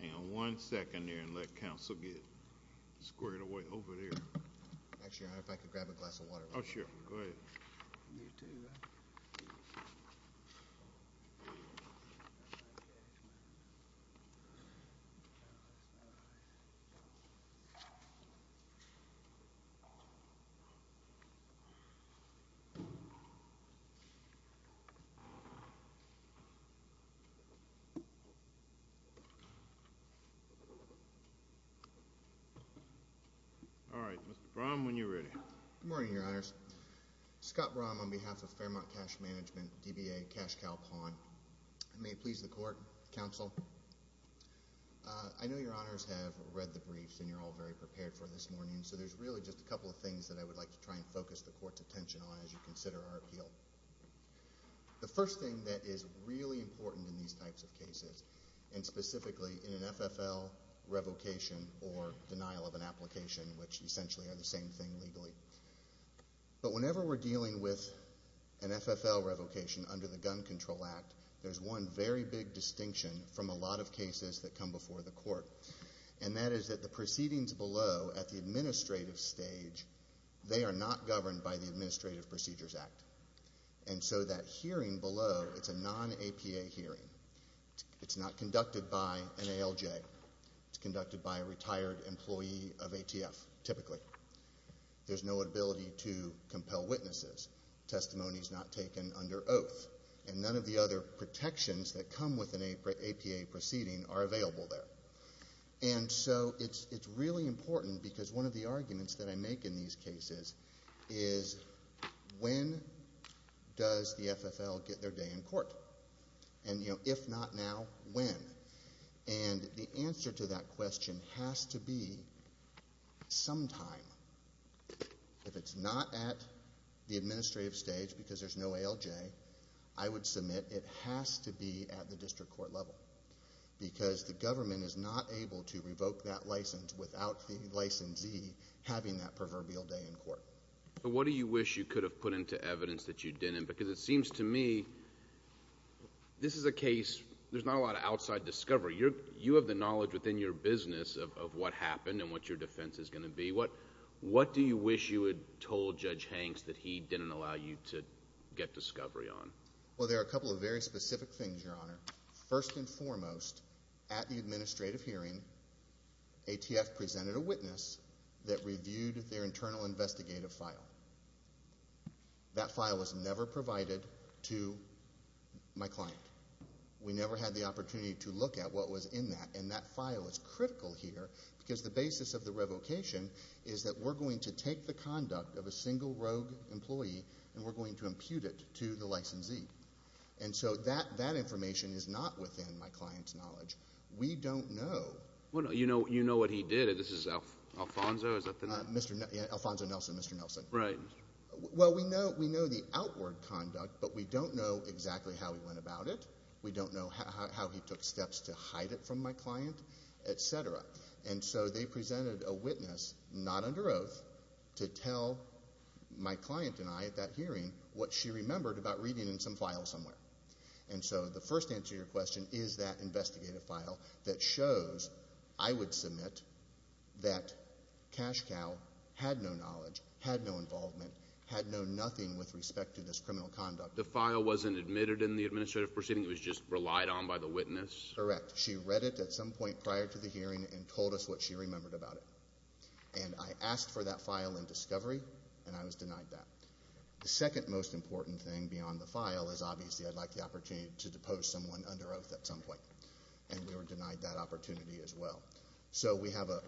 and L.L.C. v. Tanarra James All right, Mr. Brom, when you're ready. Good morning, Your Honors. Scott Brom on behalf of Fairmont Cash Management, DBA, Cash Cal Pawn. I may please the Court, Counsel. I know Your Honors have read the briefs and you're all very prepared for this morning, so there's really just a couple of things that I would like to try and focus the Court's attention on as you consider our appeal. The first thing that is really important in these types of cases, and specifically in an FFL revocation or denial of an application, which essentially are the same thing legally. But whenever we're dealing with an FFL revocation under the Gun Control Act, there's one very big distinction from a lot of cases that come before the Court, and that is that the proceedings below at the administrative stage, they are not governed by the Administrative Procedures Act. And so that hearing below, it's a non-APA hearing. It's not conducted by an ALJ. It's conducted by a retired employee of ATF, typically. There's no ability to compel witnesses. Testimony is not taken under oath. And none of the other protections that come with an APA proceeding are available there. And so it's really important because one of the arguments that I make in these cases is when does the FFL get their day in court? And, you know, if not now, when? And the answer to that question has to be sometime. If it's not at the administrative stage because there's no ALJ, I would submit it has to be at the district court level because the government is not able to revoke that license without the licensee having that proverbial day in court. So what do you wish you could have put into evidence that you didn't? Because it seems to me this is a case, there's not a lot of outside discovery. You have the knowledge within your business of what happened and what your defense is going to be. What do you wish you had told Judge Hanks that he didn't allow you to get discovery on? Well, there are a couple of very specific things, Your Honor. First and foremost, at the administrative hearing, ATF presented a witness that reviewed their internal investigative file. That file was never provided to my client. We never had the opportunity to look at what was in that, and that file is critical here because the basis of the revocation is that we're going to take the conduct of a single rogue employee and we're going to impute it to the licensee. And so that information is not within my client's knowledge. We don't know. You know what he did. This is Alfonso, is that the name? Alfonso Nelson, Mr. Nelson. Right. Well, we know the outward conduct, but we don't know exactly how he went about it. We don't know how he took steps to hide it from my client, et cetera. And so they presented a witness, not under oath, to tell my client and I at that hearing what she remembered about reading in some file somewhere. And so the first answer to your question is that investigative file that shows I would submit that Cash Cow had no knowledge, had no involvement, had known nothing with respect to this criminal conduct. The file wasn't admitted in the administrative proceeding. It was just relied on by the witness? Correct. She read it at some point prior to the hearing and told us what she remembered about it. And I asked for that file in discovery, and I was denied that. The second most important thing beyond the file is, obviously, I'd like the opportunity to depose someone under oath at some point, and we were denied that opportunity as well. So we have a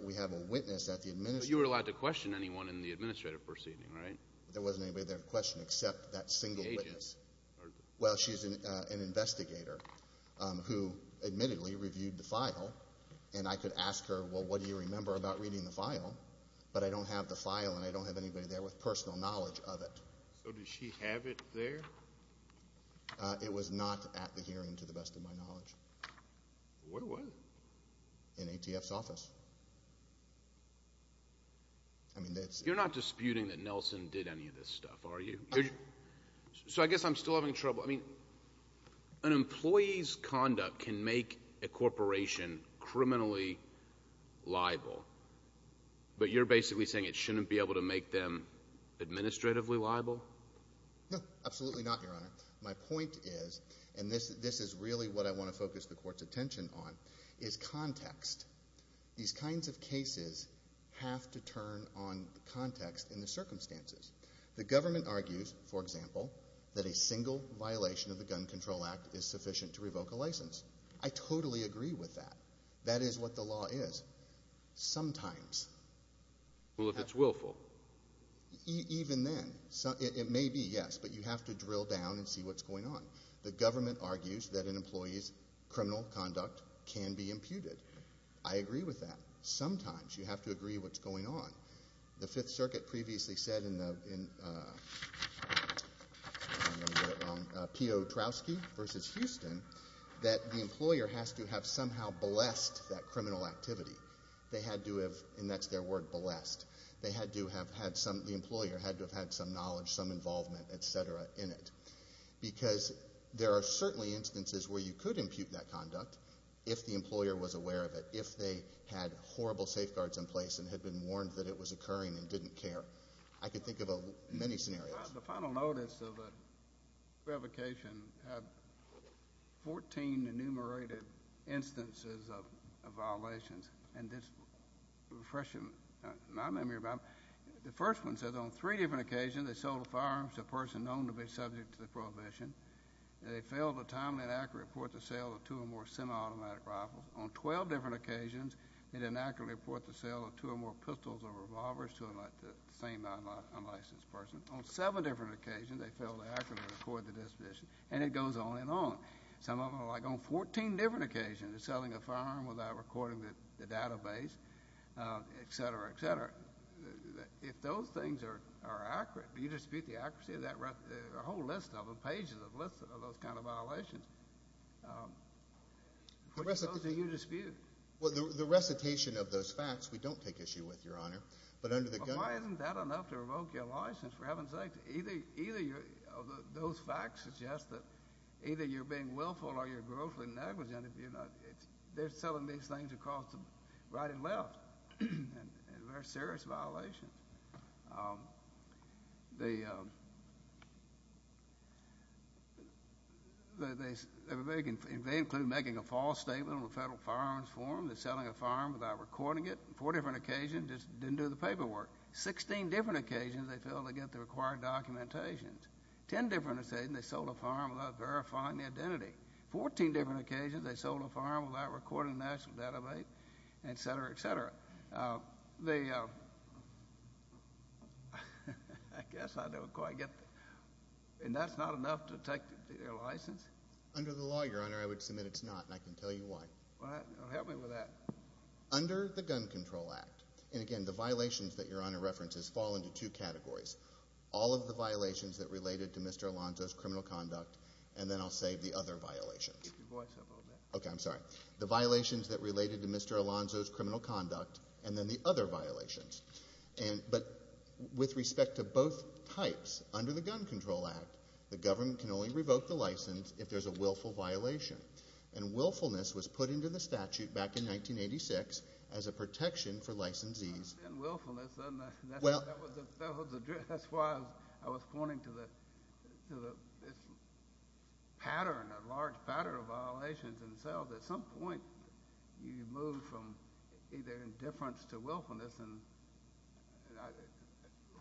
witness at the administrative proceeding. But you were allowed to question anyone in the administrative proceeding, right? There wasn't anybody there to question except that single witness. The agent. Well, she's an investigator who admittedly reviewed the file, and I could ask her, well, what do you remember about reading the file? But I don't have the file, and I don't have anybody there with personal knowledge of it. So did she have it there? It was not at the hearing, to the best of my knowledge. Where was it? In ATF's office. You're not disputing that Nelson did any of this stuff, are you? So I guess I'm still having trouble. So, I mean, an employee's conduct can make a corporation criminally liable, but you're basically saying it shouldn't be able to make them administratively liable? No, absolutely not, Your Honor. My point is, and this is really what I want to focus the Court's attention on, is context. These kinds of cases have to turn on context and the circumstances. The government argues, for example, that a single violation of the Gun Control Act is sufficient to revoke a license. I totally agree with that. That is what the law is. Sometimes. Well, if it's willful. Even then. It may be, yes, but you have to drill down and see what's going on. The government argues that an employee's criminal conduct can be imputed. I agree with that. Sometimes you have to agree what's going on. The Fifth Circuit previously said in Piotrowski v. Houston that the employer has to have somehow blessed that criminal activity. They had to have, and that's their word, blessed. The employer had to have had some knowledge, some involvement, et cetera, in it. Because there are certainly instances where you could impute that conduct if the employer was aware of it, if they had horrible safeguards in place and had been warned that it was occurring and didn't care. I could think of many scenarios. The final notice of revocation had 14 enumerated instances of violations. And this refreshes my memory about it. The first one says on three different occasions they sold a firearm to a person known to be subject to the prohibition. They failed a timely and accurate report to sell two or more semiautomatic rifles. On 12 different occasions they didn't accurately report the sale of two or more pistols or revolvers to the same unlicensed person. On seven different occasions they failed to accurately record the disposition. And it goes on and on. Some of them are like on 14 different occasions selling a firearm without recording the database, et cetera, et cetera. If those things are accurate, you dispute the accuracy of that whole list of them, pages of lists of those kind of violations. What goes to you to dispute? Well, the recitation of those facts we don't take issue with, Your Honor. But under the guise of- Well, why isn't that enough to revoke your license, for heaven's sake? Either those facts suggest that either you're being willful or you're grossly negligent. They're selling these things across the right and left, and they're serious violations. They include making a false statement on a federal firearms form. They're selling a firearm without recording it. On four different occasions they didn't do the paperwork. On 16 different occasions they failed to get the required documentation. On 10 different occasions they sold a firearm without verifying the identity. On 14 different occasions they sold a firearm without recording the national database, et cetera, et cetera. I guess I don't quite get it. And that's not enough to take your license? Under the law, Your Honor, I would submit it's not, and I can tell you why. Well, help me with that. Under the Gun Control Act, and again, the violations that Your Honor references fall into two categories. All of the violations that related to Mr. Alonzo's criminal conduct, and then I'll save the other violations. Okay, I'm sorry. The violations that related to Mr. Alonzo's criminal conduct, and then the other violations. But with respect to both types, under the Gun Control Act, the government can only revoke the license if there's a willful violation. And willfulness was put into the statute back in 1986 as a protection for licensees. Willfulness, that's why I was pointing to the pattern, a large pattern of violations themselves. At some point, you move from either indifference to willfulness. And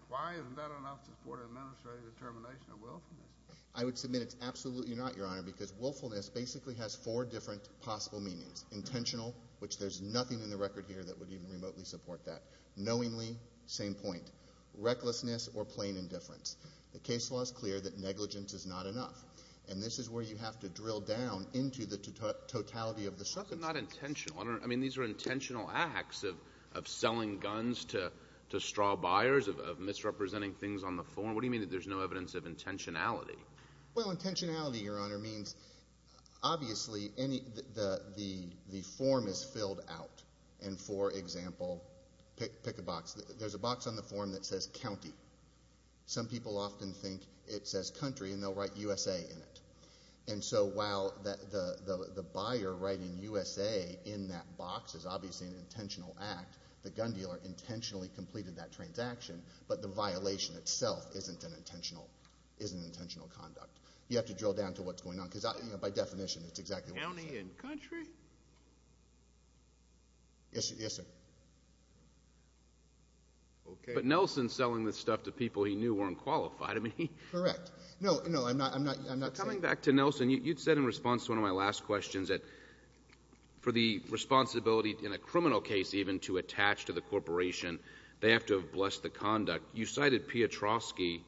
why isn't that enough to support an administrative determination of willfulness? I would submit it's absolutely not, Your Honor, because willfulness basically has four different possible meanings. Intentional, which there's nothing in the record here that would even remotely support that. Knowingly, same point. Recklessness or plain indifference. The case law is clear that negligence is not enough. And this is where you have to drill down into the totality of the substance. How is it not intentional? I mean, these are intentional acts of selling guns to straw buyers, of misrepresenting things on the form. What do you mean that there's no evidence of intentionality? Well, intentionality, Your Honor, means obviously the form is filled out. And, for example, pick a box. There's a box on the form that says county. Some people often think it says country, and they'll write USA in it. And so while the buyer writing USA in that box is obviously an intentional act, the gun dealer intentionally completed that transaction, but the violation itself isn't an intentional conduct. You have to drill down to what's going on because, by definition, it's exactly what you said. County and country? Yes, sir. But Nelson selling this stuff to people he knew weren't qualified. Correct. No, I'm not saying that. Coming back to Nelson, you said in response to one of my last questions that for the responsibility in a criminal case, even, to attach to the corporation, they have to have blessed the conduct. You cited Piotrowski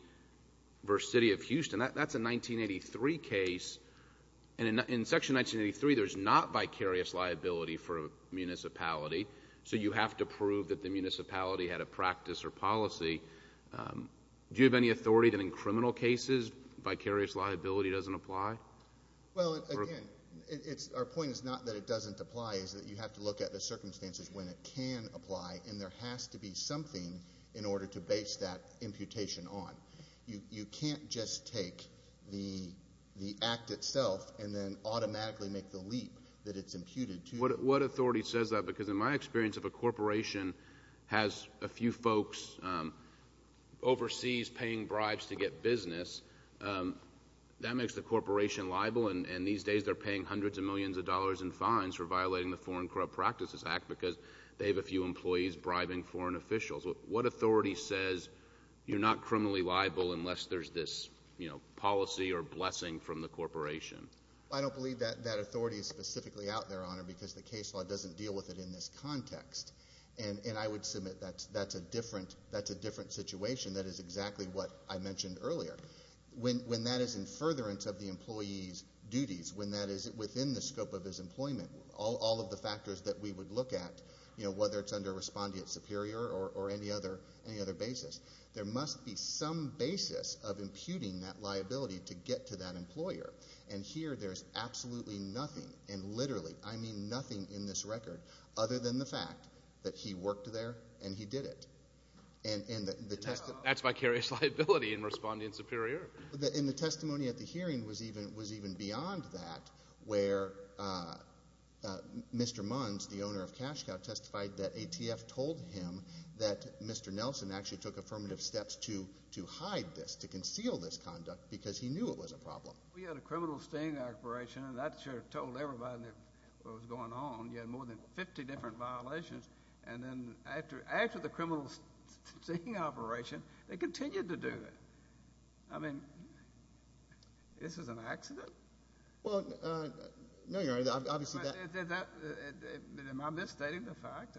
v. City of Houston. That's a 1983 case, and in Section 1983, there's not vicarious liability for a municipality, so you have to prove that the municipality had a practice or policy. Do you have any authority that in criminal cases, vicarious liability doesn't apply? Well, again, our point is not that it doesn't apply. It's that you have to look at the circumstances when it can apply, and there has to be something in order to base that imputation on. You can't just take the act itself and then automatically make the leap that it's imputed to. What authority says that? Because in my experience, if a corporation has a few folks overseas paying bribes to get business, that makes the corporation liable, and these days they're paying hundreds of millions of dollars in fines for violating the Foreign Corrupt Practices Act because they have a few employees bribing foreign officials. What authority says you're not criminally liable unless there's this policy or blessing from the corporation? I don't believe that authority is specifically out there, Honor, because the case law doesn't deal with it in this context, and I would submit that's a different situation that is exactly what I mentioned earlier. When that is in furtherance of the employee's duties, when that is within the scope of his employment, all of the factors that we would look at, whether it's under respondeat superior or any other basis, there must be some basis of imputing that liability to get to that employer, and here there's absolutely nothing, and literally I mean nothing in this record, other than the fact that he worked there and he did it. And that's vicarious liability in respondeat superior. And the testimony at the hearing was even beyond that where Mr. Munz, the owner of CashCow, testified that ATF told him that Mr. Nelson actually took affirmative steps to hide this, We had a criminal sting operation, and that should have told everybody what was going on. You had more than 50 different violations, and then after the criminal sting operation, they continued to do it. I mean, this is an accident? Well, no, Your Honor, obviously that — Am I misstating the fact?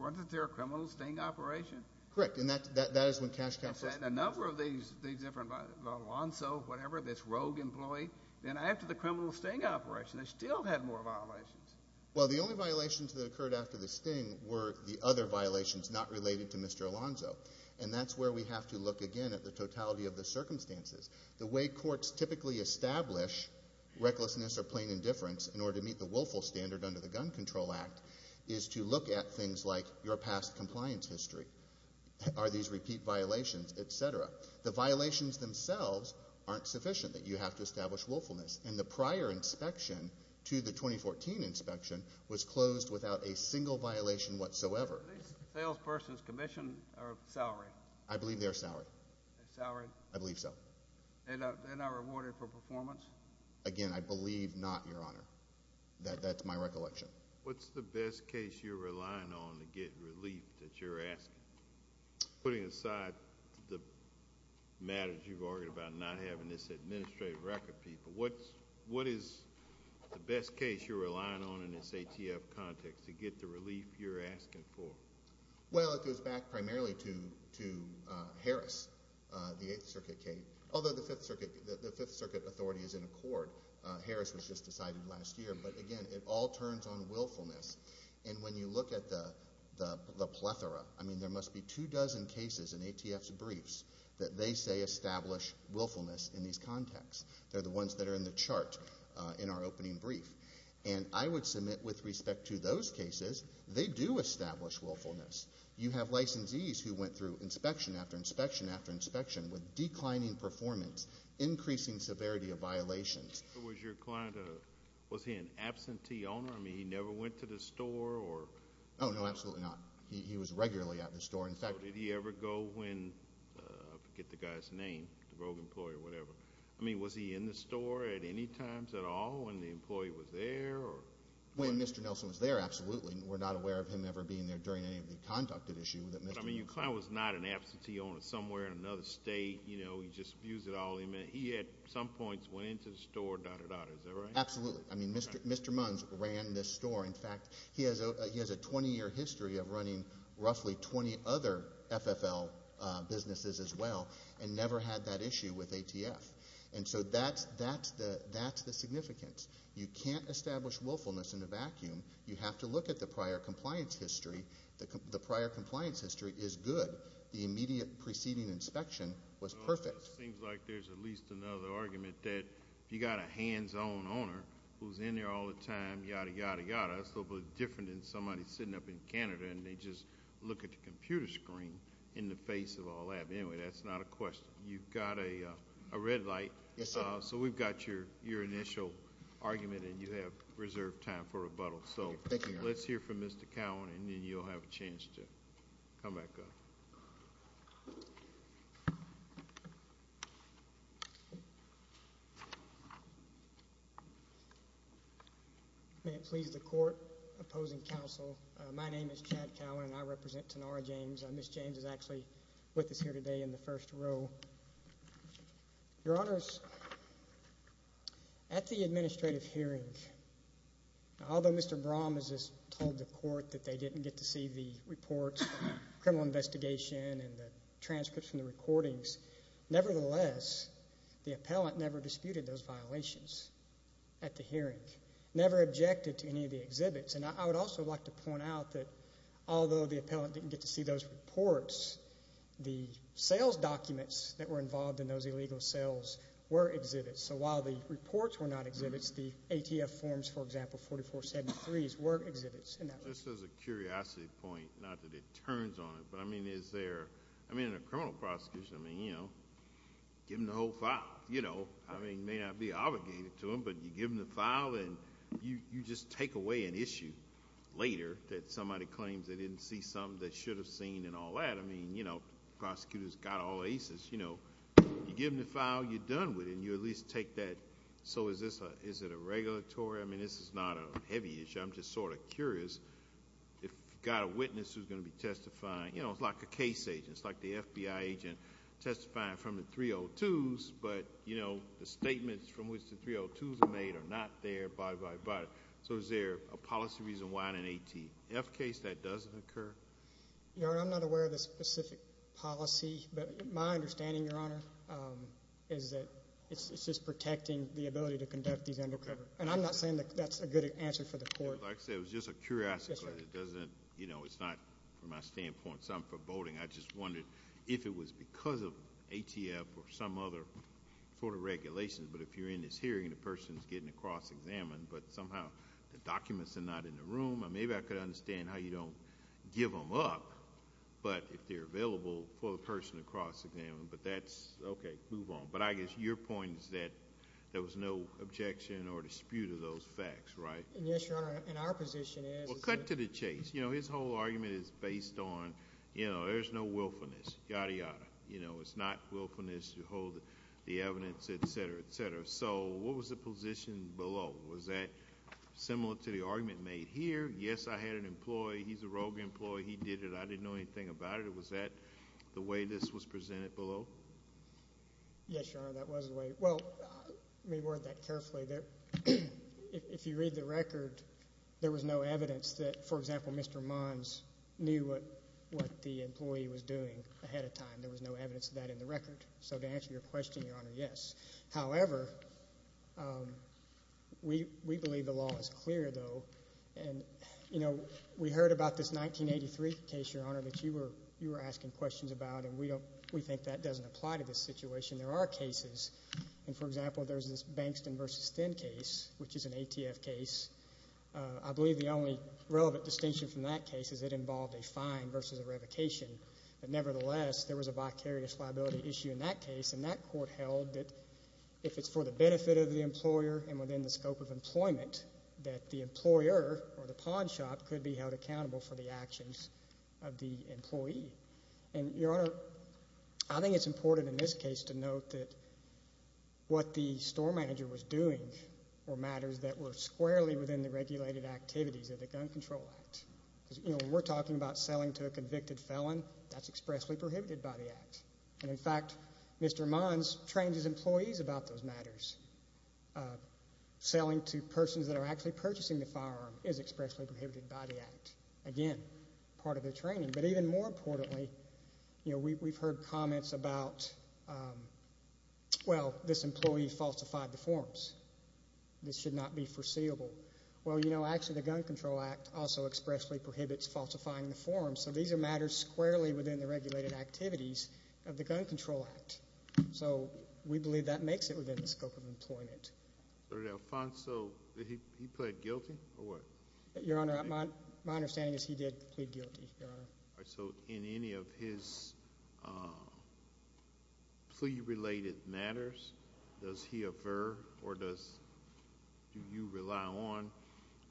Wasn't there a criminal sting operation? Correct, and that is when CashCow — You said a number of these different — Alonzo, whatever, this rogue employee. Then after the criminal sting operation, they still had more violations. Well, the only violations that occurred after the sting were the other violations not related to Mr. Alonzo, and that's where we have to look again at the totality of the circumstances. The way courts typically establish recklessness or plain indifference in order to meet the willful standard under the Gun Control Act is to look at things like your past compliance history. Are these repeat violations, et cetera? The violations themselves aren't sufficient that you have to establish willfulness, and the prior inspection to the 2014 inspection was closed without a single violation whatsoever. Are these salesperson's commission or salary? I believe they're salary. Salary? I believe so. They're not rewarded for performance? Again, I believe not, Your Honor. That's my recollection. What's the best case you're relying on to get relief that you're asking? Putting aside the matters you've argued about not having this administrative record, people, what is the best case you're relying on in this ATF context to get the relief you're asking for? Well, it goes back primarily to Harris, the Eighth Circuit case. Although the Fifth Circuit authority is in accord. Harris was just decided last year. But, again, it all turns on willfulness. And when you look at the plethora, I mean, there must be two dozen cases in ATF's briefs that they say establish willfulness in these contexts. They're the ones that are in the chart in our opening brief. And I would submit with respect to those cases, they do establish willfulness. You have licensees who went through inspection after inspection after inspection with declining performance, increasing severity of violations. Was your client, was he an absentee owner? I mean, he never went to the store or? Oh, no, absolutely not. He was regularly at the store. In fact, did he ever go when, I forget the guy's name, the rogue employee or whatever. I mean, was he in the store at any times at all when the employee was there or? When Mr. Nelson was there, absolutely. We're not aware of him ever being there during any of the conduct at issue that Mr. Nelson. But, I mean, your client was not an absentee owner somewhere in another state. You know, he just abused it all. He at some points went into the store, dot, dot, dot. Is that right? Absolutely. I mean, Mr. Munns ran this store. In fact, he has a 20-year history of running roughly 20 other FFL businesses as well and never had that issue with ATF. And so that's the significance. You can't establish willfulness in a vacuum. You have to look at the prior compliance history. The prior compliance history is good. The immediate preceding inspection was perfect. It seems like there's at least another argument that if you've got a hands-on owner who's in there all the time, yada, yada, yada, it's a little bit different than somebody sitting up in Canada and they just look at the computer screen in the face of all that. But, anyway, that's not a question. You've got a red light. Yes, sir. So we've got your initial argument, and you have reserved time for rebuttal. So let's hear from Mr. Cowan, and then you'll have a chance to come back up. May it please the Court opposing counsel, my name is Chad Cowan, and I represent Tenora James. Ms. James is actually with us here today in the first row. Your Honors, at the administrative hearing, although Mr. Brom has just told the Court that they didn't get to see the reports, the criminal investigation and the transcripts and the recordings, nevertheless, the appellant never disputed those violations at the hearing, never objected to any of the exhibits. And I would also like to point out that although the appellant didn't get to see those reports, the sales documents that were involved in those illegal sales were exhibits. So while the reports were not exhibits, the ATF forms, for example, 4473s, were exhibits. This is a curiosity point, not that it turns on it, but, I mean, is there, I mean, in a criminal prosecution, I mean, you know, give them the whole file, you know. I mean, you may not be obligated to them, but you give them the file, and you just take away an issue later that somebody claims they didn't see something that they should have seen and all that. I mean, you know, the prosecutor's got all aces, you know. You give them the file, you're done with it, and you at least take that. So is it a regulatory? I mean, this is not a heavy issue. I'm just sort of curious if you've got a witness who's going to be testifying. You know, it's like a case agent. It's like the FBI agent testifying from the 302s, but, you know, So is there a policy reason why in an ATF case that doesn't occur? Your Honor, I'm not aware of a specific policy, but my understanding, Your Honor, is that it's just protecting the ability to conduct these undercover. And I'm not saying that that's a good answer for the court. Like I said, it was just a curiosity. It doesn't, you know, it's not, from my standpoint, something for voting. I just wondered if it was because of ATF or some other sort of regulation, but if you're in this hearing and the person's getting a cross-examined, but somehow the documents are not in the room, maybe I could understand how you don't give them up, but if they're available for the person to cross-examine, but that's, okay, move on. But I guess your point is that there was no objection or dispute of those facts, right? Yes, Your Honor, and our position is Well, cut to the chase. You know, his whole argument is based on, you know, there's no willfulness, yada, yada. You know, it's not willfulness to hold the evidence, et cetera, et cetera. So what was the position below? Was that similar to the argument made here? Yes, I had an employee. He's a rogue employee. He did it. I didn't know anything about it. Was that the way this was presented below? Yes, Your Honor, that was the way. Well, let me word that carefully. If you read the record, there was no evidence that, for example, Mr. Mons knew what the employee was doing ahead of time. There was no evidence of that in the record. So to answer your question, Your Honor, yes. However, we believe the law is clear, though. And, you know, we heard about this 1983 case, Your Honor, that you were asking questions about, and we think that doesn't apply to this situation. There are cases. And, for example, there's this Bankston v. Thin case, which is an ATF case. I believe the only relevant distinction from that case is it involved a fine versus a revocation. But nevertheless, there was a vicarious liability issue in that case, and that court held that if it's for the benefit of the employer and within the scope of employment, that the employer or the pawn shop could be held accountable for the actions of the employee. And, Your Honor, I think it's important in this case to note that what the store manager was doing were matters that were squarely within the regulated activities of the Gun Control Act. Because, you know, when we're talking about selling to a convicted felon, that's expressly prohibited by the Act. And, in fact, Mr. Mons trains his employees about those matters. Selling to persons that are actually purchasing the firearm is expressly prohibited by the Act. Again, part of the training. But even more importantly, you know, we've heard comments about, well, this employee falsified the forms. This should not be foreseeable. Well, you know, actually the Gun Control Act also expressly prohibits falsifying the forms. So these are matters squarely within the regulated activities of the Gun Control Act. So we believe that makes it within the scope of employment. So did Alfonso, did he plead guilty or what? Your Honor, my understanding is he did plead guilty, Your Honor. All right. So in any of his plea-related matters, does he affir or do you rely on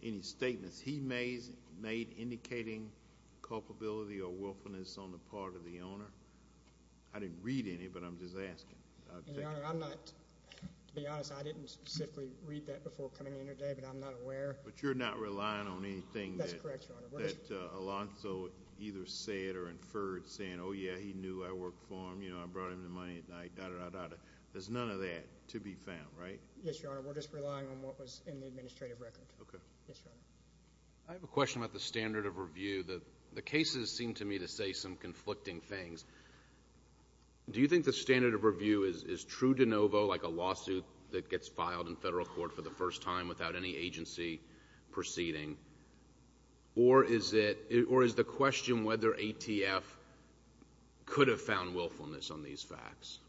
any statements he made indicating culpability or willfulness on the part of the owner? I didn't read any, but I'm just asking. Your Honor, I'm not, to be honest, I didn't specifically read that before coming in here today, but I'm not aware. But you're not relying on anything that Alfonso either said or inferred, saying, oh, yeah, he knew I worked for him, you know, I brought him the money at night, da-da-da-da-da. There's none of that to be found, right? Yes, Your Honor. We're just relying on what was in the administrative record. Okay. Yes, Your Honor. I have a question about the standard of review. The cases seem to me to say some conflicting things. Do you think the standard of review is true de novo, like a lawsuit that gets filed in federal court for the first time without any agency proceeding, or is the question whether ATF could have found willfulness on these facts?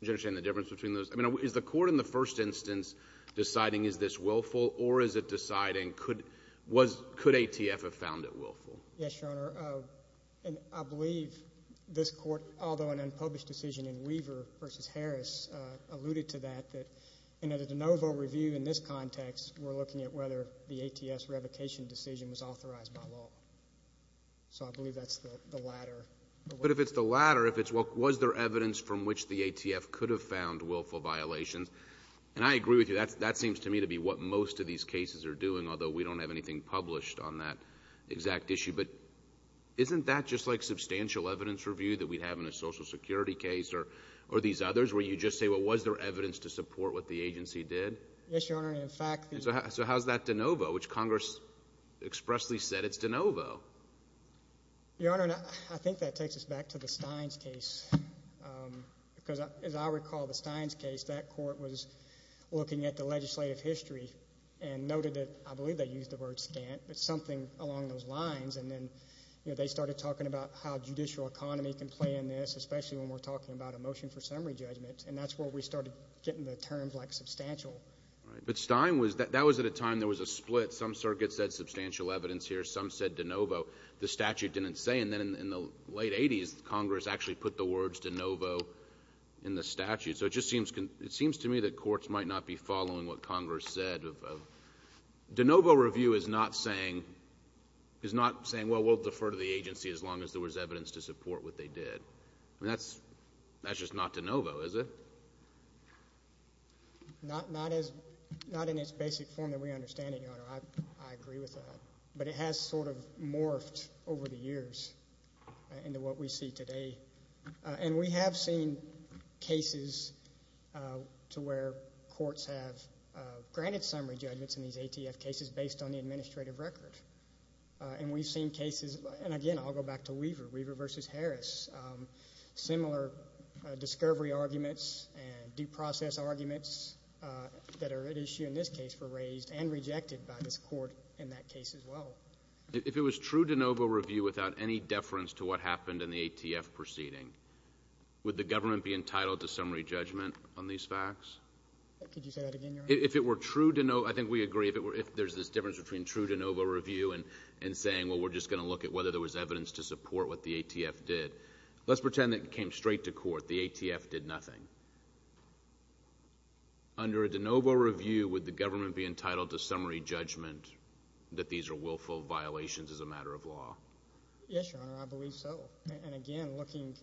Do you understand the difference between those? I mean, is the court in the first instance deciding is this willful, or is it deciding could ATF have found it willful? Yes, Your Honor. And I believe this court, although an unpublished decision in Weaver v. Harris alluded to that, that in a de novo review in this context, we're looking at whether the ATS revocation decision was authorized by law. So I believe that's the latter. But if it's the latter, if it's was there evidence from which the ATF could have found willful violations, and I agree with you, that seems to me to be what most of these cases are doing, although we don't have anything published on that exact issue. But isn't that just like substantial evidence review that we have in a Social Security case or these others where you just say, well, was there evidence to support what the agency did? Yes, Your Honor. In fact, the – So how's that de novo, which Congress expressly said it's de novo? Your Honor, I think that takes us back to the Steins case because, as I recall, the Steins case, that court was looking at the legislative history and noted that, I believe they used the word scant, but something along those lines. And then they started talking about how judicial economy can play in this, especially when we're talking about a motion for summary judgment. And that's where we started getting the terms like substantial. But Stein was – that was at a time there was a split. Some circuits said substantial evidence here. Some said de novo. The statute didn't say. And then in the late 80s, Congress actually put the words de novo in the statute. So it just seems – it seems to me that courts might not be following what Congress said. De novo review is not saying – is not saying, well, we'll defer to the agency as long as there was evidence to support what they did. I mean, that's just not de novo, is it? Not in its basic form that we understand it, Your Honor. I agree with that. But it has sort of morphed over the years into what we see today. And we have seen cases to where courts have granted summary judgments in these ATF cases based on the administrative record. And we've seen cases – and, again, I'll go back to Weaver, Weaver v. Harris, similar discovery arguments and due process arguments that are at issue in this case were raised and rejected by this court in that case as well. If it was true de novo review without any deference to what happened in the ATF proceeding, would the government be entitled to summary judgment on these facts? Could you say that again, Your Honor? If it were true de novo – I think we agree. If there's this difference between true de novo review and saying, well, we're just going to look at whether there was evidence to support what the ATF did. Let's pretend it came straight to court. The ATF did nothing. Under a de novo review, would the government be entitled to summary judgment that these are willful violations as a matter of law? Yes, Your Honor, I believe so. And, again, looking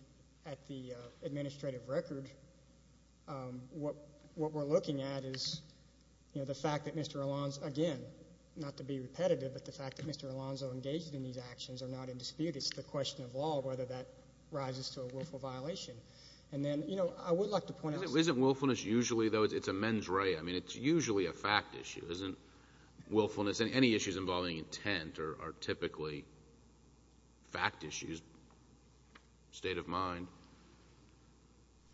at the administrative record, what we're looking at is, you know, the fact that Mr. Alonzo – again, not to be repetitive, but the fact that Mr. Alonzo engaged in these actions are not in dispute. It's the question of law, whether that rises to a willful violation. And then, you know, I would like to point out – Isn't willfulness usually, though – it's a mens rea. I mean, it's usually a fact issue. Isn't willfulness – any issues involving intent are typically fact issues, state of mind?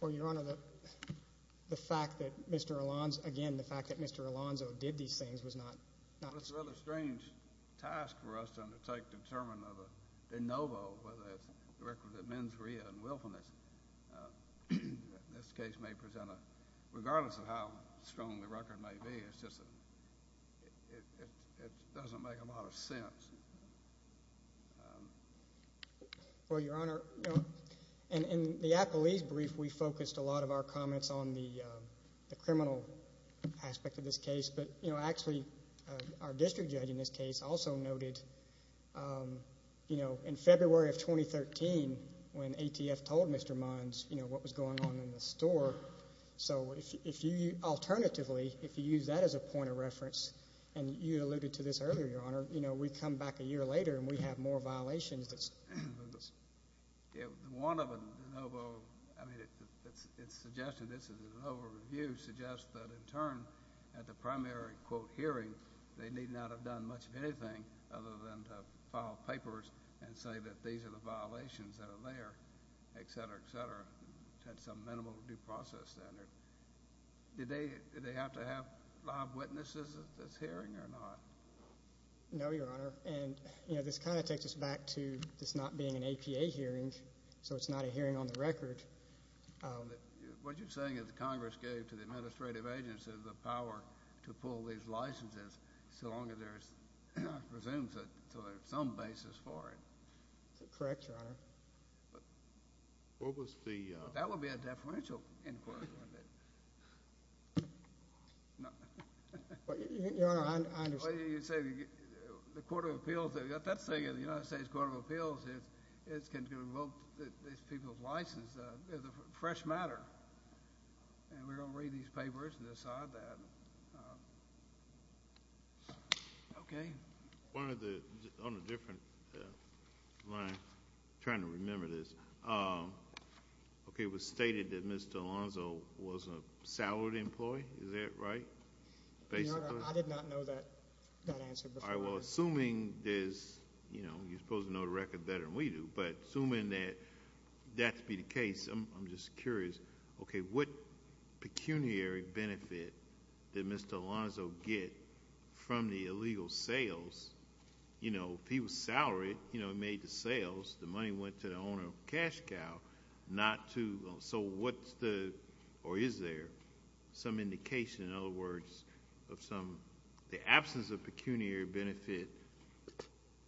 Well, Your Honor, the fact that Mr. Alonzo – again, the fact that Mr. Alonzo did these things was not – Well, it's a rather strange task for us to undertake to determine of a de novo, whether it's the record of mens rea and willfulness. This case may present a – regardless of how strong the record may be, it's just that it doesn't make a lot of sense. Well, Your Honor, in the appellee's brief, we focused a lot of our comments on the criminal aspect of this case. But, you know, actually our district judge in this case also noted, you know, in February of 2013 when ATF told Mr. Mons, you know, what was going on in the store. So if you – alternatively, if you use that as a point of reference, and you alluded to this earlier, Your Honor, you know, we come back a year later and we have more violations than this. One of a de novo – I mean, it's suggested – this is a de novo review – suggests that in turn at the primary, quote, hearing, they need not have done much of anything other than to file papers and say that these are the violations that are there, et cetera, et cetera. That's a minimal due process standard. Did they have to have live witnesses at this hearing or not? No, Your Honor. And, you know, this kind of takes us back to this not being an APA hearing, so it's not a hearing on the record. What you're saying is that Congress gave to the administrative agencies the power to pull these licenses so long as there's – I presume so there's some basis for it. Correct, Your Honor. What was the – That would be a deferential inquiry, wouldn't it? Your Honor, I understand. Well, you say the Court of Appeals – that thing in the United States Court of Appeals is going to revoke these people's licenses. It's a fresh matter, and we're going to read these papers and decide that. Okay. On a different line, I'm trying to remember this. Okay, it was stated that Ms. Delonzo was a salary employee. Is that right, basically? Your Honor, I did not know that answer before. All right, well, assuming there's – you know, you're supposed to know the record better than we do, but assuming that that's the case, I'm just curious. Okay, what pecuniary benefit did Ms. Delonzo get from the illegal sales? You know, if he was salaried, you know, he made the sales. The money went to the owner of Cash Cow. Not to – so what's the – or is there some indication, in other words, of some – the pecuniary benefit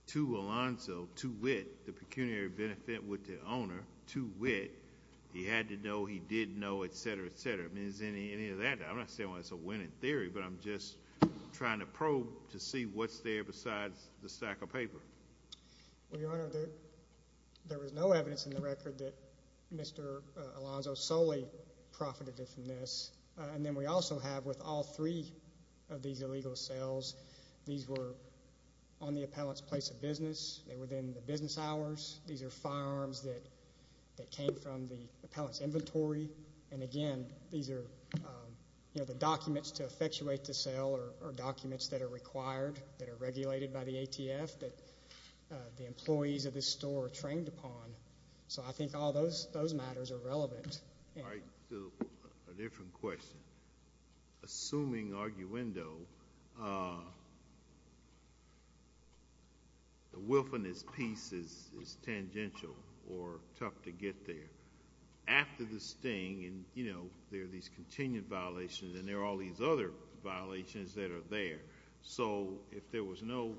to Alonzo, to wit, the pecuniary benefit with the owner, to wit, he had to know, he did know, et cetera, et cetera. I mean, is there any of that? I'm not saying it's a winning theory, but I'm just trying to probe to see what's there besides the stack of paper. Well, Your Honor, there was no evidence in the record that Mr. Alonzo solely profited from this. And then we also have, with all three of these illegal sales, these were on the appellant's place of business. They were within the business hours. These are firearms that came from the appellant's inventory. And, again, these are, you know, the documents to effectuate the sale are documents that are required, that are regulated by the ATF, that the employees of this store are trained upon. So I think all those matters are relevant. All right. A different question. Assuming arguendo, the wilfulness piece is tangential or tough to get there. After the sting, and, you know, there are these continued violations, and there are all these other violations that are there. So if there was no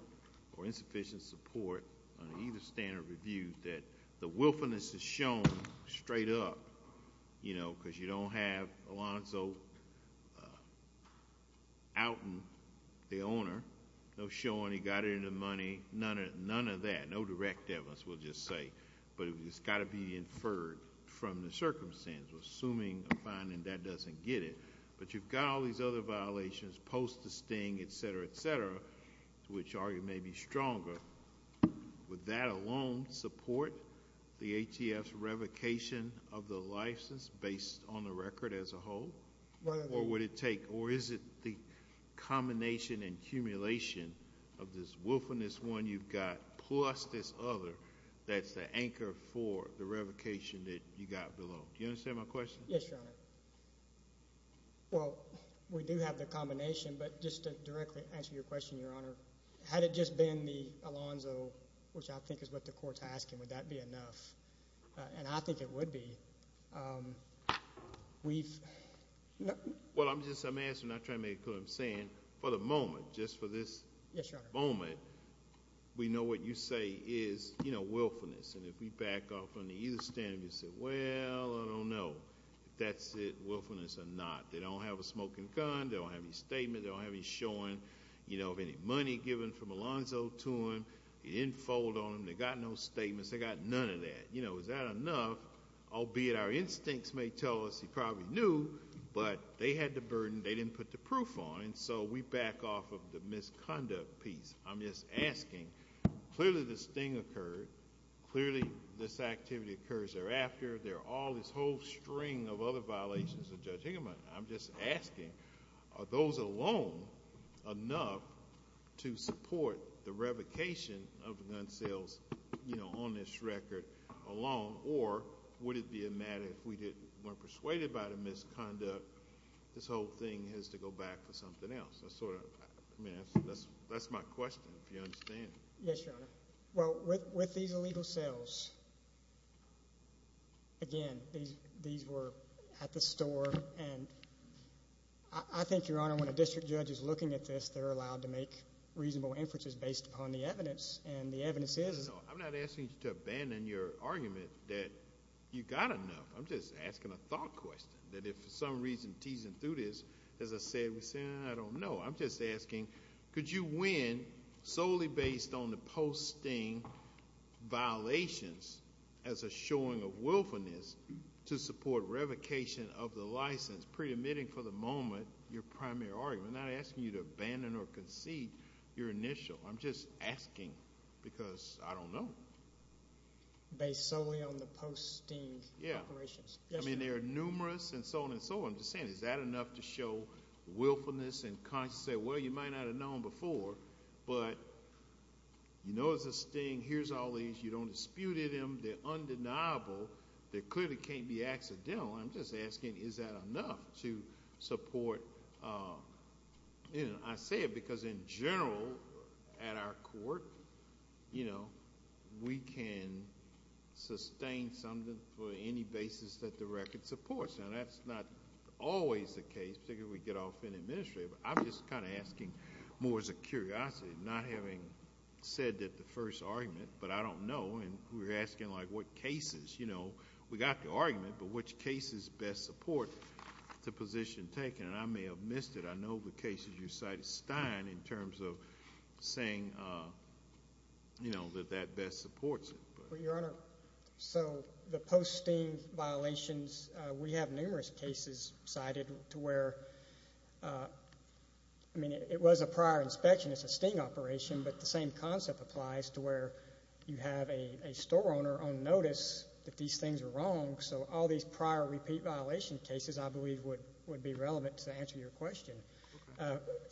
or insufficient support on either stand or review that the wilfulness is shown straight up, you know, because you don't have Alonzo outing the owner, no showing he got into money, none of that. No direct evidence, we'll just say. But it's got to be inferred from the circumstances, assuming a finding that doesn't get it. But you've got all these other violations post the sting, et cetera, et cetera, which argue may be stronger. Would that alone support the ATF's revocation of the license based on the record as a whole? Or would it take, or is it the combination and accumulation of this wilfulness one you've got plus this other that's the anchor for the revocation that you got below? Do you understand my question? Yes, Your Honor. Well, we do have the combination, but just to directly answer your question, Your Honor, had it just been the Alonzo, which I think is what the court's asking, would that be enough? And I think it would be. Well, I'm just, I'm answering, not trying to make it clear what I'm saying. For the moment, just for this moment, we know what you say is, you know, willfulness. And if we back off on either stand, you say, well, I don't know if that's it, willfulness or not. They don't have a smoking gun. They don't have any statement. They don't have any showing, you know, of any money given from Alonzo to him. He didn't fold on them. They got no statements. They got none of that. You know, is that enough? Albeit our instincts may tell us he probably knew, but they had the burden. They didn't put the proof on. And so we back off of the misconduct piece. I'm just asking, clearly this thing occurred. Clearly this activity occurs thereafter. There are all this whole string of other violations of Judge Higginbotham. I'm just asking, are those alone enough to support the revocation of the gun sales, you know, on this record alone? Or would it be a matter if we weren't persuaded by the misconduct, this whole thing has to go back for something else? I mean, that's my question, if you understand. Yes, Your Honor. Well, with these illegal sales, again, these were at the store. And I think, Your Honor, when a district judge is looking at this, they're allowed to make reasonable inferences based upon the evidence, and the evidence is. I'm not asking you to abandon your argument that you got enough. I'm just asking a thought question, that if for some reason teasing through this, as I said, I don't know, I'm just asking, could you win solely based on the posting violations as a showing of willfulness to support revocation of the license, pre-admitting for the moment your primary argument? I'm not asking you to abandon or concede your initial. I'm just asking because I don't know. Based solely on the posting operations? Yes, Your Honor. I mean, there are numerous and so on and so on. I'm just saying, is that enough to show willfulness and say, well, you might not have known before, but you know it's a sting, here's all these, you don't dispute them, they're undeniable, they clearly can't be accidental. I'm just asking, is that enough to support? I say it because in general at our court, you know, we can sustain something for any basis that the record supports. And that's not always the case, particularly when we get off in administrative. I'm just kind of asking more as a curiosity, not having said that the first argument, but I don't know. And we're asking, like, what cases? You know, we got the argument, but which cases best support the position taken? And I may have missed it. I know the case that you cited, Stein, in terms of saying, you know, that that best supports it. Well, Your Honor, so the post-sting violations, we have numerous cases cited to where, I mean, it was a prior inspection, it's a sting operation, but the same concept applies to where you have a store owner on notice that these things are wrong. So all these prior repeat violation cases, I believe, would be relevant to answer your question.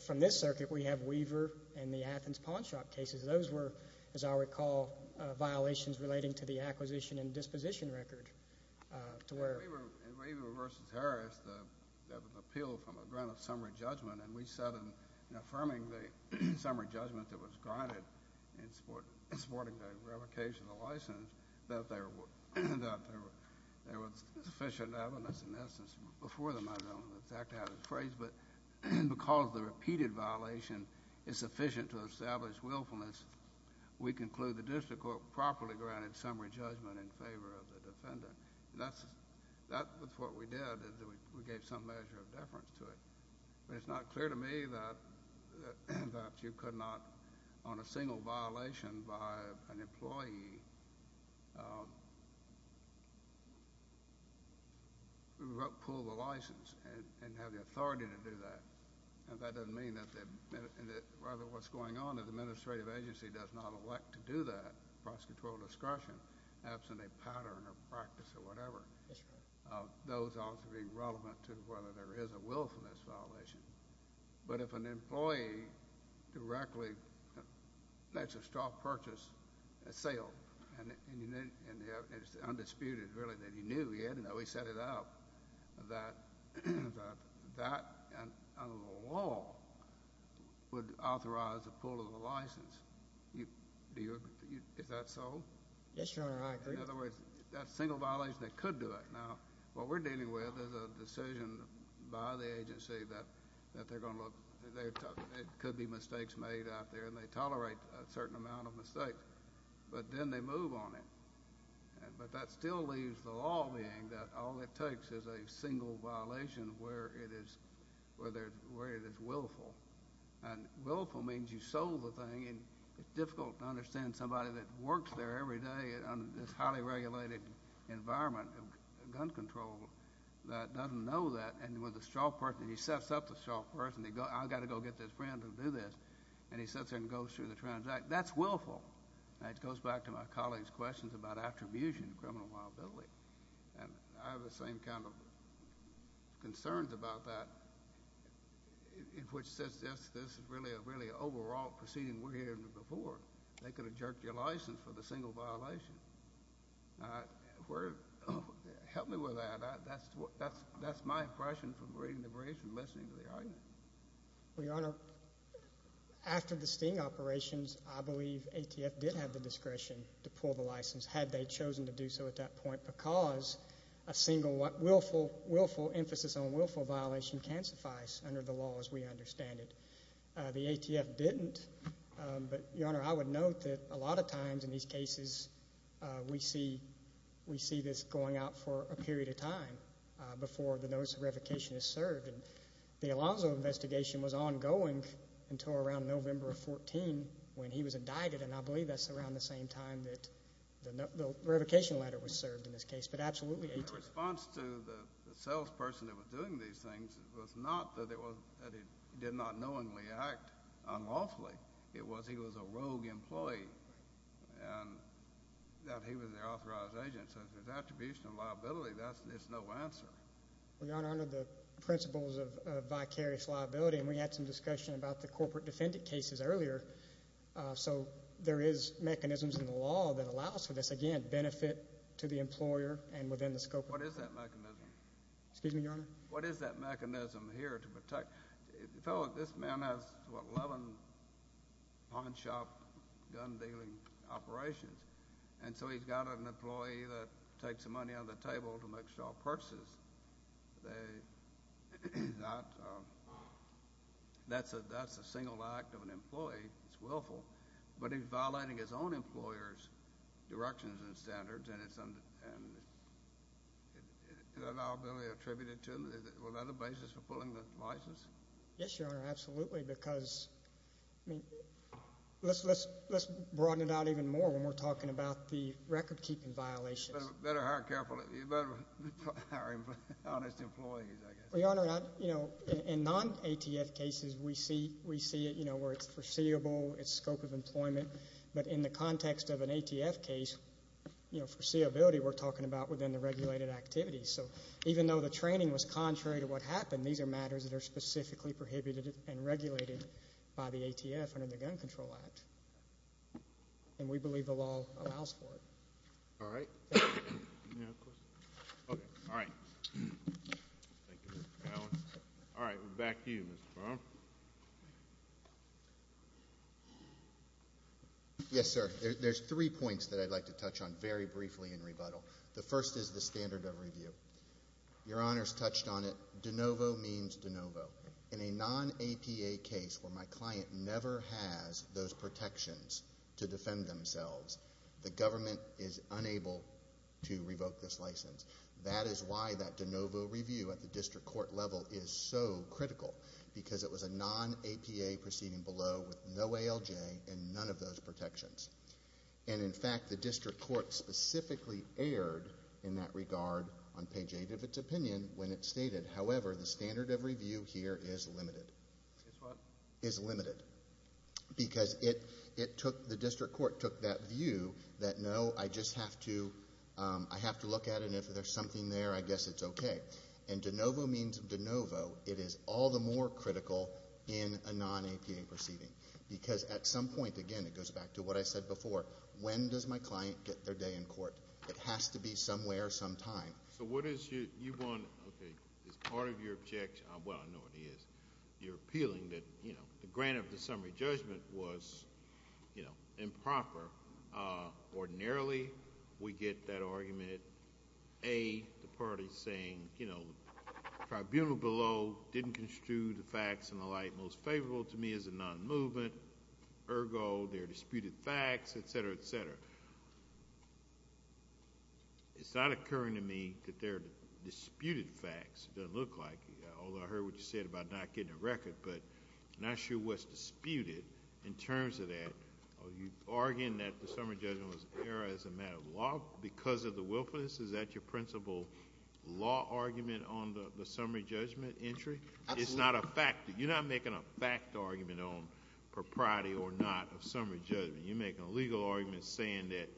From this circuit, we have Weaver and the Athens Pawn Shop cases. Those were, as I recall, violations relating to the acquisition and disposition record. To where? Weaver v. Harris, the appeal from a grant of summary judgment, and we said in affirming the summary judgment that was granted in supporting the revocation of the license, that there was sufficient evidence, in essence, before the matter, I don't know exactly how to phrase, but because the repeated violation is sufficient to establish willfulness, we conclude the district court properly granted summary judgment in favor of the defendant. And that's what we did, is we gave some measure of deference to it. But it's not clear to me that you could not, on a single violation by an employee, pull the license and have the authority to do that. And that doesn't mean that rather what's going on is the administrative agency does not elect to do that, prosecutorial discretion, absent a pattern or practice or whatever. Yes, sir. Those ought to be relevant to whether there is a willfulness violation. But if an employee directly makes a stock purchase, a sale, and it's undisputed, really, that he knew, he had to know, he set it up, that under the law would authorize the pull of the license. Is that so? Yes, Your Honor, I agree. In other words, that single violation, they could do it. Now, what we're dealing with is a decision by the agency that they're going to look. There could be mistakes made out there, and they tolerate a certain amount of mistakes. But then they move on it. But that still leaves the law being that all it takes is a single violation where it is willful. And willful means you sold the thing. And it's difficult to understand somebody that works there every day in this highly regulated environment of gun control that doesn't know that. And with a shopper, and he sets up the shopper, and I've got to go get this friend to do this. And he sits there and goes through the transaction. That's willful. And it goes back to my colleague's questions about attribution and criminal liability. And I have the same kind of concerns about that, which says this is really an overall proceeding we're hearing before. They could have jerked your license for the single violation. Help me with that. That's my impression from reading the brief and listening to the argument. Well, Your Honor, after the sting operations, I believe ATF did have the discretion to pull the license had they chosen to do so at that point because a single willful emphasis on willful violation can suffice under the law as we understand it. The ATF didn't. But, Your Honor, I would note that a lot of times in these cases we see this going out for a period of time before the notice of revocation is served. And the Alonzo investigation was ongoing until around November of 2014 when he was indicted, and I believe that's around the same time that the revocation letter was served in this case. But absolutely ATF. My response to the salesperson that was doing these things was not that he did not knowingly act unlawfully. It was he was a rogue employee and that he was their authorized agent. So if there's attribution and liability, it's no answer. Well, Your Honor, under the principles of vicarious liability, and we had some discussion about the corporate defendant cases earlier, so there is mechanisms in the law that allows for this, again, benefit to the employer and within the scope of the case. What is that mechanism? Excuse me, Your Honor? What is that mechanism here to protect? This man has, what, 11 pawn shop gun dealing operations, and so he's got an employee that takes the money on the table to make small purchases. That's a single act of an employee. It's willful, but he's violating his own employer's directions and standards, and is that liability attributed to him? Is that a basis for pulling the license? Yes, Your Honor, absolutely, because, I mean, let's broaden it out even more when we're talking about the recordkeeping violations. Better hire honest employees, I guess. Well, Your Honor, you know, in non-ATF cases, we see it, you know, where it's foreseeable, it's scope of employment, but in the context of an ATF case, you know, foreseeability we're talking about within the regulated activities. So even though the training was contrary to what happened, these are matters that are specifically prohibited and regulated by the ATF under the Gun Control Act, and we believe the law allows for it. All right. Any other questions? Okay. All right. Thank you, Mr. Allen. All right. Back to you, Mr. Brown. Yes, sir. There's three points that I'd like to touch on very briefly in rebuttal. The first is the standard of review. Your Honors touched on it. De novo means de novo. In a non-APA case where my client never has those protections to defend themselves, the government is unable to revoke this license. That is why that de novo review at the district court level is so critical, because it was a non-APA proceeding below with no ALJ and none of those protections. And, in fact, the district court specifically erred in that regard on page 8 of its opinion when it stated, however, the standard of review here is limited. Is what? Is limited. Because the district court took that view that, no, I just have to look at it, and if there's something there, I guess it's okay. And de novo means de novo. It is all the more critical in a non-APA proceeding. Because at some point, again, it goes back to what I said before, when does my client get their day in court? It has to be somewhere sometime. So what is it you want? Okay, it's part of your objection. Well, I know what it is. You're appealing that, you know, the grant of the summary judgment was, you know, improper. Ordinarily, we get that argument, A, the party's saying, you know, tribunal below didn't construe the facts and the like most favorable to me as a non-movement. Ergo, there are disputed facts, et cetera, et cetera. It's not occurring to me that there are disputed facts. It doesn't look like it. Although I heard what you said about not getting a record, but I'm not sure what's disputed in terms of that. Are you arguing that the summary judgment was error as a matter of law because of the willfulness? Is that your principal law argument on the summary judgment entry? Absolutely. It's not a fact. You're not making a fact argument on propriety or not of summary judgment. You're making a legal argument saying that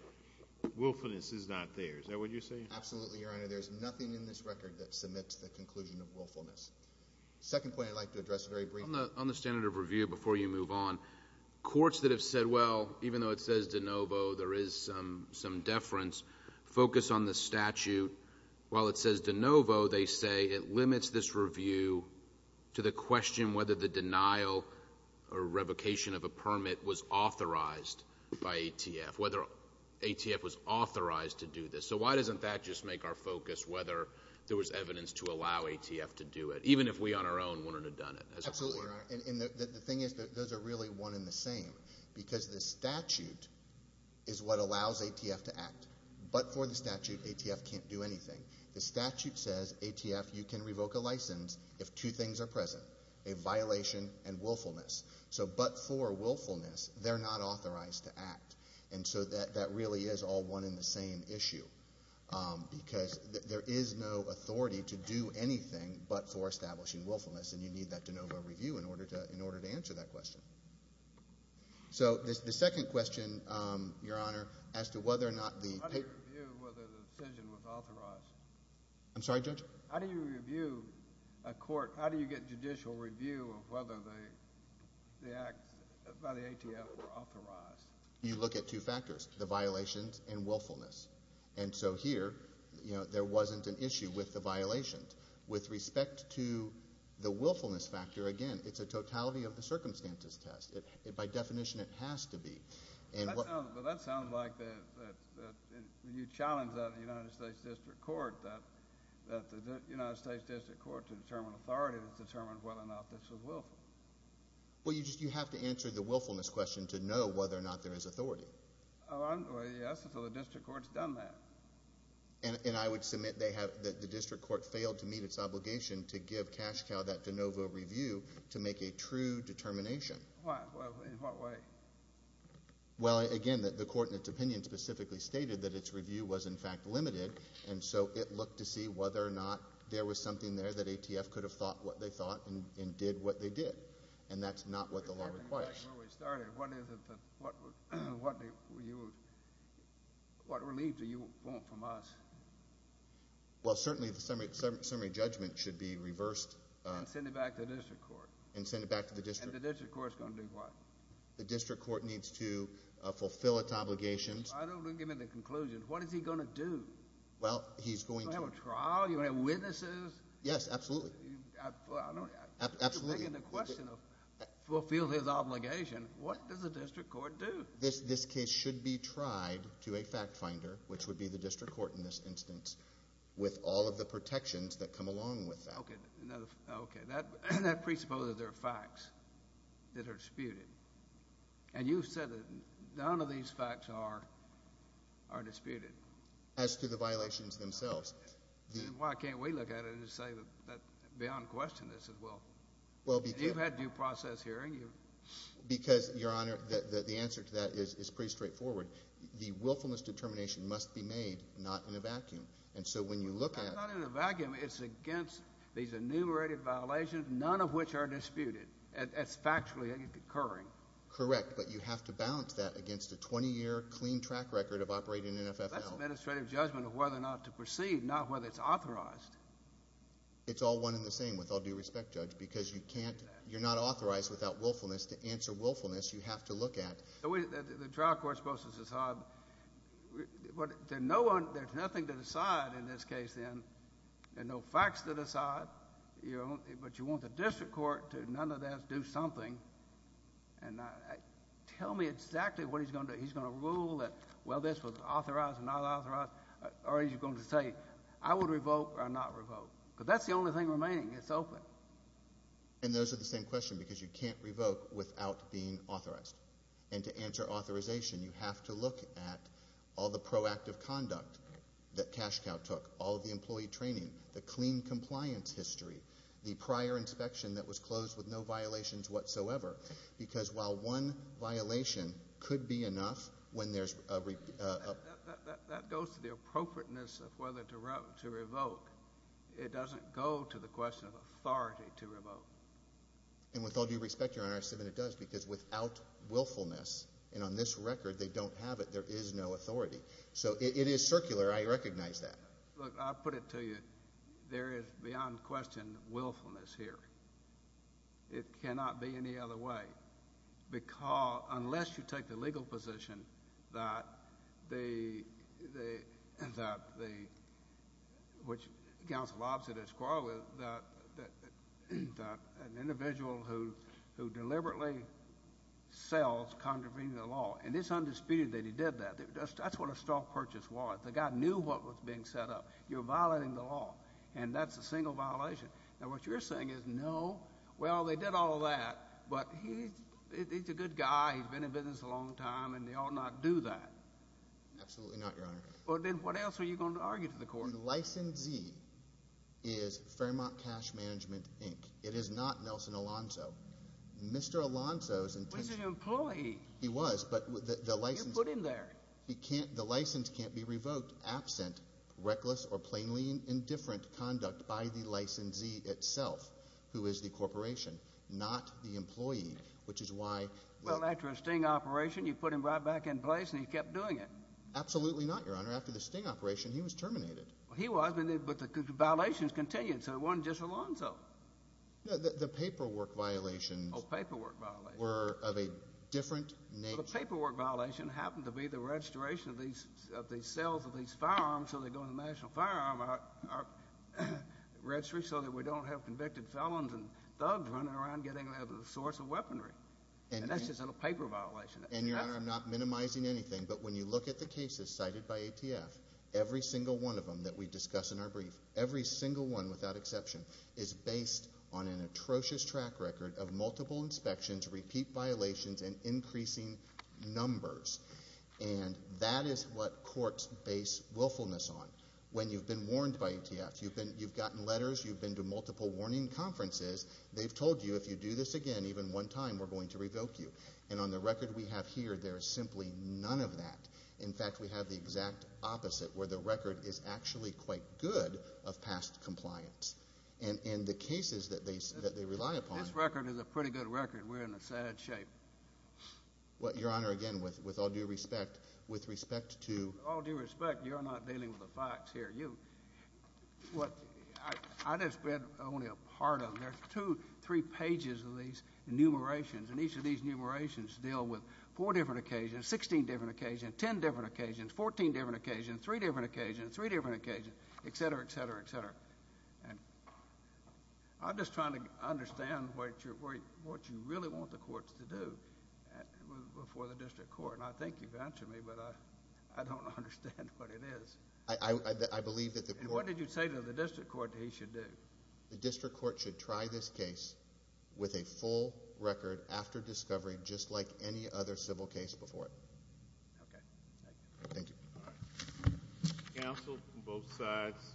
willfulness is not there. Is that what you're saying? Absolutely, Your Honor. There's nothing in this record that submits the conclusion of willfulness. Second point I'd like to address very briefly. On the standard of review, before you move on, courts that have said, well, even though it says de novo, there is some deference, focus on the statute. While it says de novo, they say it limits this review to the question whether the denial or revocation of a permit was authorized by ATF, whether ATF was authorized to do this. So why doesn't that just make our focus whether there was evidence to allow ATF to do it, even if we on our own wouldn't have done it? Absolutely, Your Honor. And the thing is that those are really one and the same because the statute is what allows ATF to act. But for the statute, ATF can't do anything. The statute says, ATF, you can revoke a license if two things are present, a violation and willfulness. So but for willfulness, they're not authorized to act. And so that really is all one and the same issue because there is no authority to do anything but for establishing willfulness, and you need that de novo review in order to answer that question. So the second question, Your Honor, as to whether or not the paper… How do you review whether the decision was authorized? I'm sorry, Judge? How do you review a court? How do you get judicial review of whether the acts by the ATF were authorized? You look at two factors, the violations and willfulness. And so here, you know, there wasn't an issue with the violations. But with respect to the willfulness factor, again, it's a totality of the circumstances test. By definition, it has to be. Well, that sounds like you challenged that in the United States District Court that the United States District Court to determine authority was determined whether or not this was willful. Well, you have to answer the willfulness question to know whether or not there is authority. Well, yes, so the district court's done that. And I would submit that the district court failed to meet its obligation to give Cashcow that de novo review to make a true determination. In what way? Well, again, the court in its opinion specifically stated that its review was, in fact, limited, and so it looked to see whether or not there was something there that ATF could have thought what they thought and did what they did, and that's not what the law requires. Before we started, what relief do you want from us? Well, certainly the summary judgment should be reversed. And send it back to the district court. And send it back to the district court. And the district court's going to do what? The district court needs to fulfill its obligations. I don't want to give me the conclusion. What is he going to do? Well, he's going to. Is he going to have a trial? Are you going to have witnesses? Yes, absolutely. You're making the question of fulfill his obligation. What does the district court do? This case should be tried to a fact finder, which would be the district court in this instance, with all of the protections that come along with that. Okay. That presupposes there are facts that are disputed. And you said that none of these facts are disputed. As to the violations themselves. Why can't we look at it and say that beyond question this is willful? You've had due process hearing. Because, Your Honor, the answer to that is pretty straightforward. The willfulness determination must be made not in a vacuum. And so when you look at it. It's not in a vacuum. It's against these enumerated violations, none of which are disputed. It's factually occurring. Correct. But you have to balance that against a 20-year clean track record of operating an NFFL. That's an administrative judgment of whether or not to proceed, not whether it's authorized. It's all one and the same with all due respect, Judge, because you can't. You're not authorized without willfulness to answer willfulness. You have to look at. The trial court is supposed to decide. There's nothing to decide in this case then. There are no facts to decide. But you want the district court to, none of this, do something. Tell me exactly what he's going to do. Is he going to say, well, this was authorized or not authorized? Or is he going to say, I would revoke or not revoke? Because that's the only thing remaining. It's open. And those are the same question because you can't revoke without being authorized. And to answer authorization, you have to look at all the proactive conduct that CASHCOW took, all the employee training, the clean compliance history, the prior inspection that was closed with no violations whatsoever. Because while one violation could be enough when there's a... That goes to the appropriateness of whether to revoke. It doesn't go to the question of authority to revoke. And with all due respect, Your Honor, it does because without willfulness, and on this record they don't have it, there is no authority. So it is circular. I recognize that. Look, I'll put it to you. There is beyond question willfulness here. It cannot be any other way unless you take the legal position that the... which Counsel Lobson has quarreled with, that an individual who deliberately sells contravening the law, and it's undisputed that he did that. That's what a stock purchase was. The guy knew what was being set up. You're violating the law, and that's a single violation. Now, what you're saying is, no, well, they did all that, but he's a good guy. He's been in business a long time, and he ought not do that. Absolutely not, Your Honor. Well, then what else are you going to argue to the court? The licensee is Fairmont Cash Management, Inc. It is not Nelson Alonzo. Mr. Alonzo's intention... He was an employee. He was, but the license... You put him there. The license can't be revoked absent reckless or plainly indifferent conduct by the licensee itself, who is the corporation, not the employee, which is why... Well, after a sting operation, you put him right back in place, and he kept doing it. Absolutely not, Your Honor. After the sting operation, he was terminated. He was, but the violations continued, so it wasn't just Alonzo. The paperwork violations... Oh, paperwork violations.... were of a different nature. So the paperwork violation happened to be the registration of these cells of these firearms so they go in the National Firearm Registry so that we don't have convicted felons and thugs running around getting other sorts of weaponry. And that's just a paper violation. And, Your Honor, I'm not minimizing anything, but when you look at the cases cited by ATF, every single one of them that we discuss in our brief, every single one without exception, is based on an atrocious track record of multiple inspections, repeat violations, and increasing numbers. And that is what courts base willfulness on. When you've been warned by ATF, you've gotten letters, you've been to multiple warning conferences, they've told you if you do this again, even one time, we're going to revoke you. And on the record we have here, there is simply none of that. In fact, we have the exact opposite where the record is actually quite good of past compliance. And in the cases that they rely upon... This record is a pretty good record. We're in a sad shape. Well, Your Honor, again, with all due respect, with respect to... With all due respect, you're not dealing with the facts here. You... I just read only a part of it. There's two, three pages of these enumerations, and each of these enumerations deal with four different occasions, 16 different occasions, 10 different occasions, 14 different occasions, three different occasions, three different occasions, et cetera, et cetera, et cetera. And I'm just trying to understand what you really want the courts to do before the district court. And I think you've answered me, but I don't understand what it is. I believe that the court... And what did you say to the district court that he should do? The district court should try this case with a full record after discovery, just like any other civil case before it. Okay. Thank you. Thank you. All right. Counsel, both sides.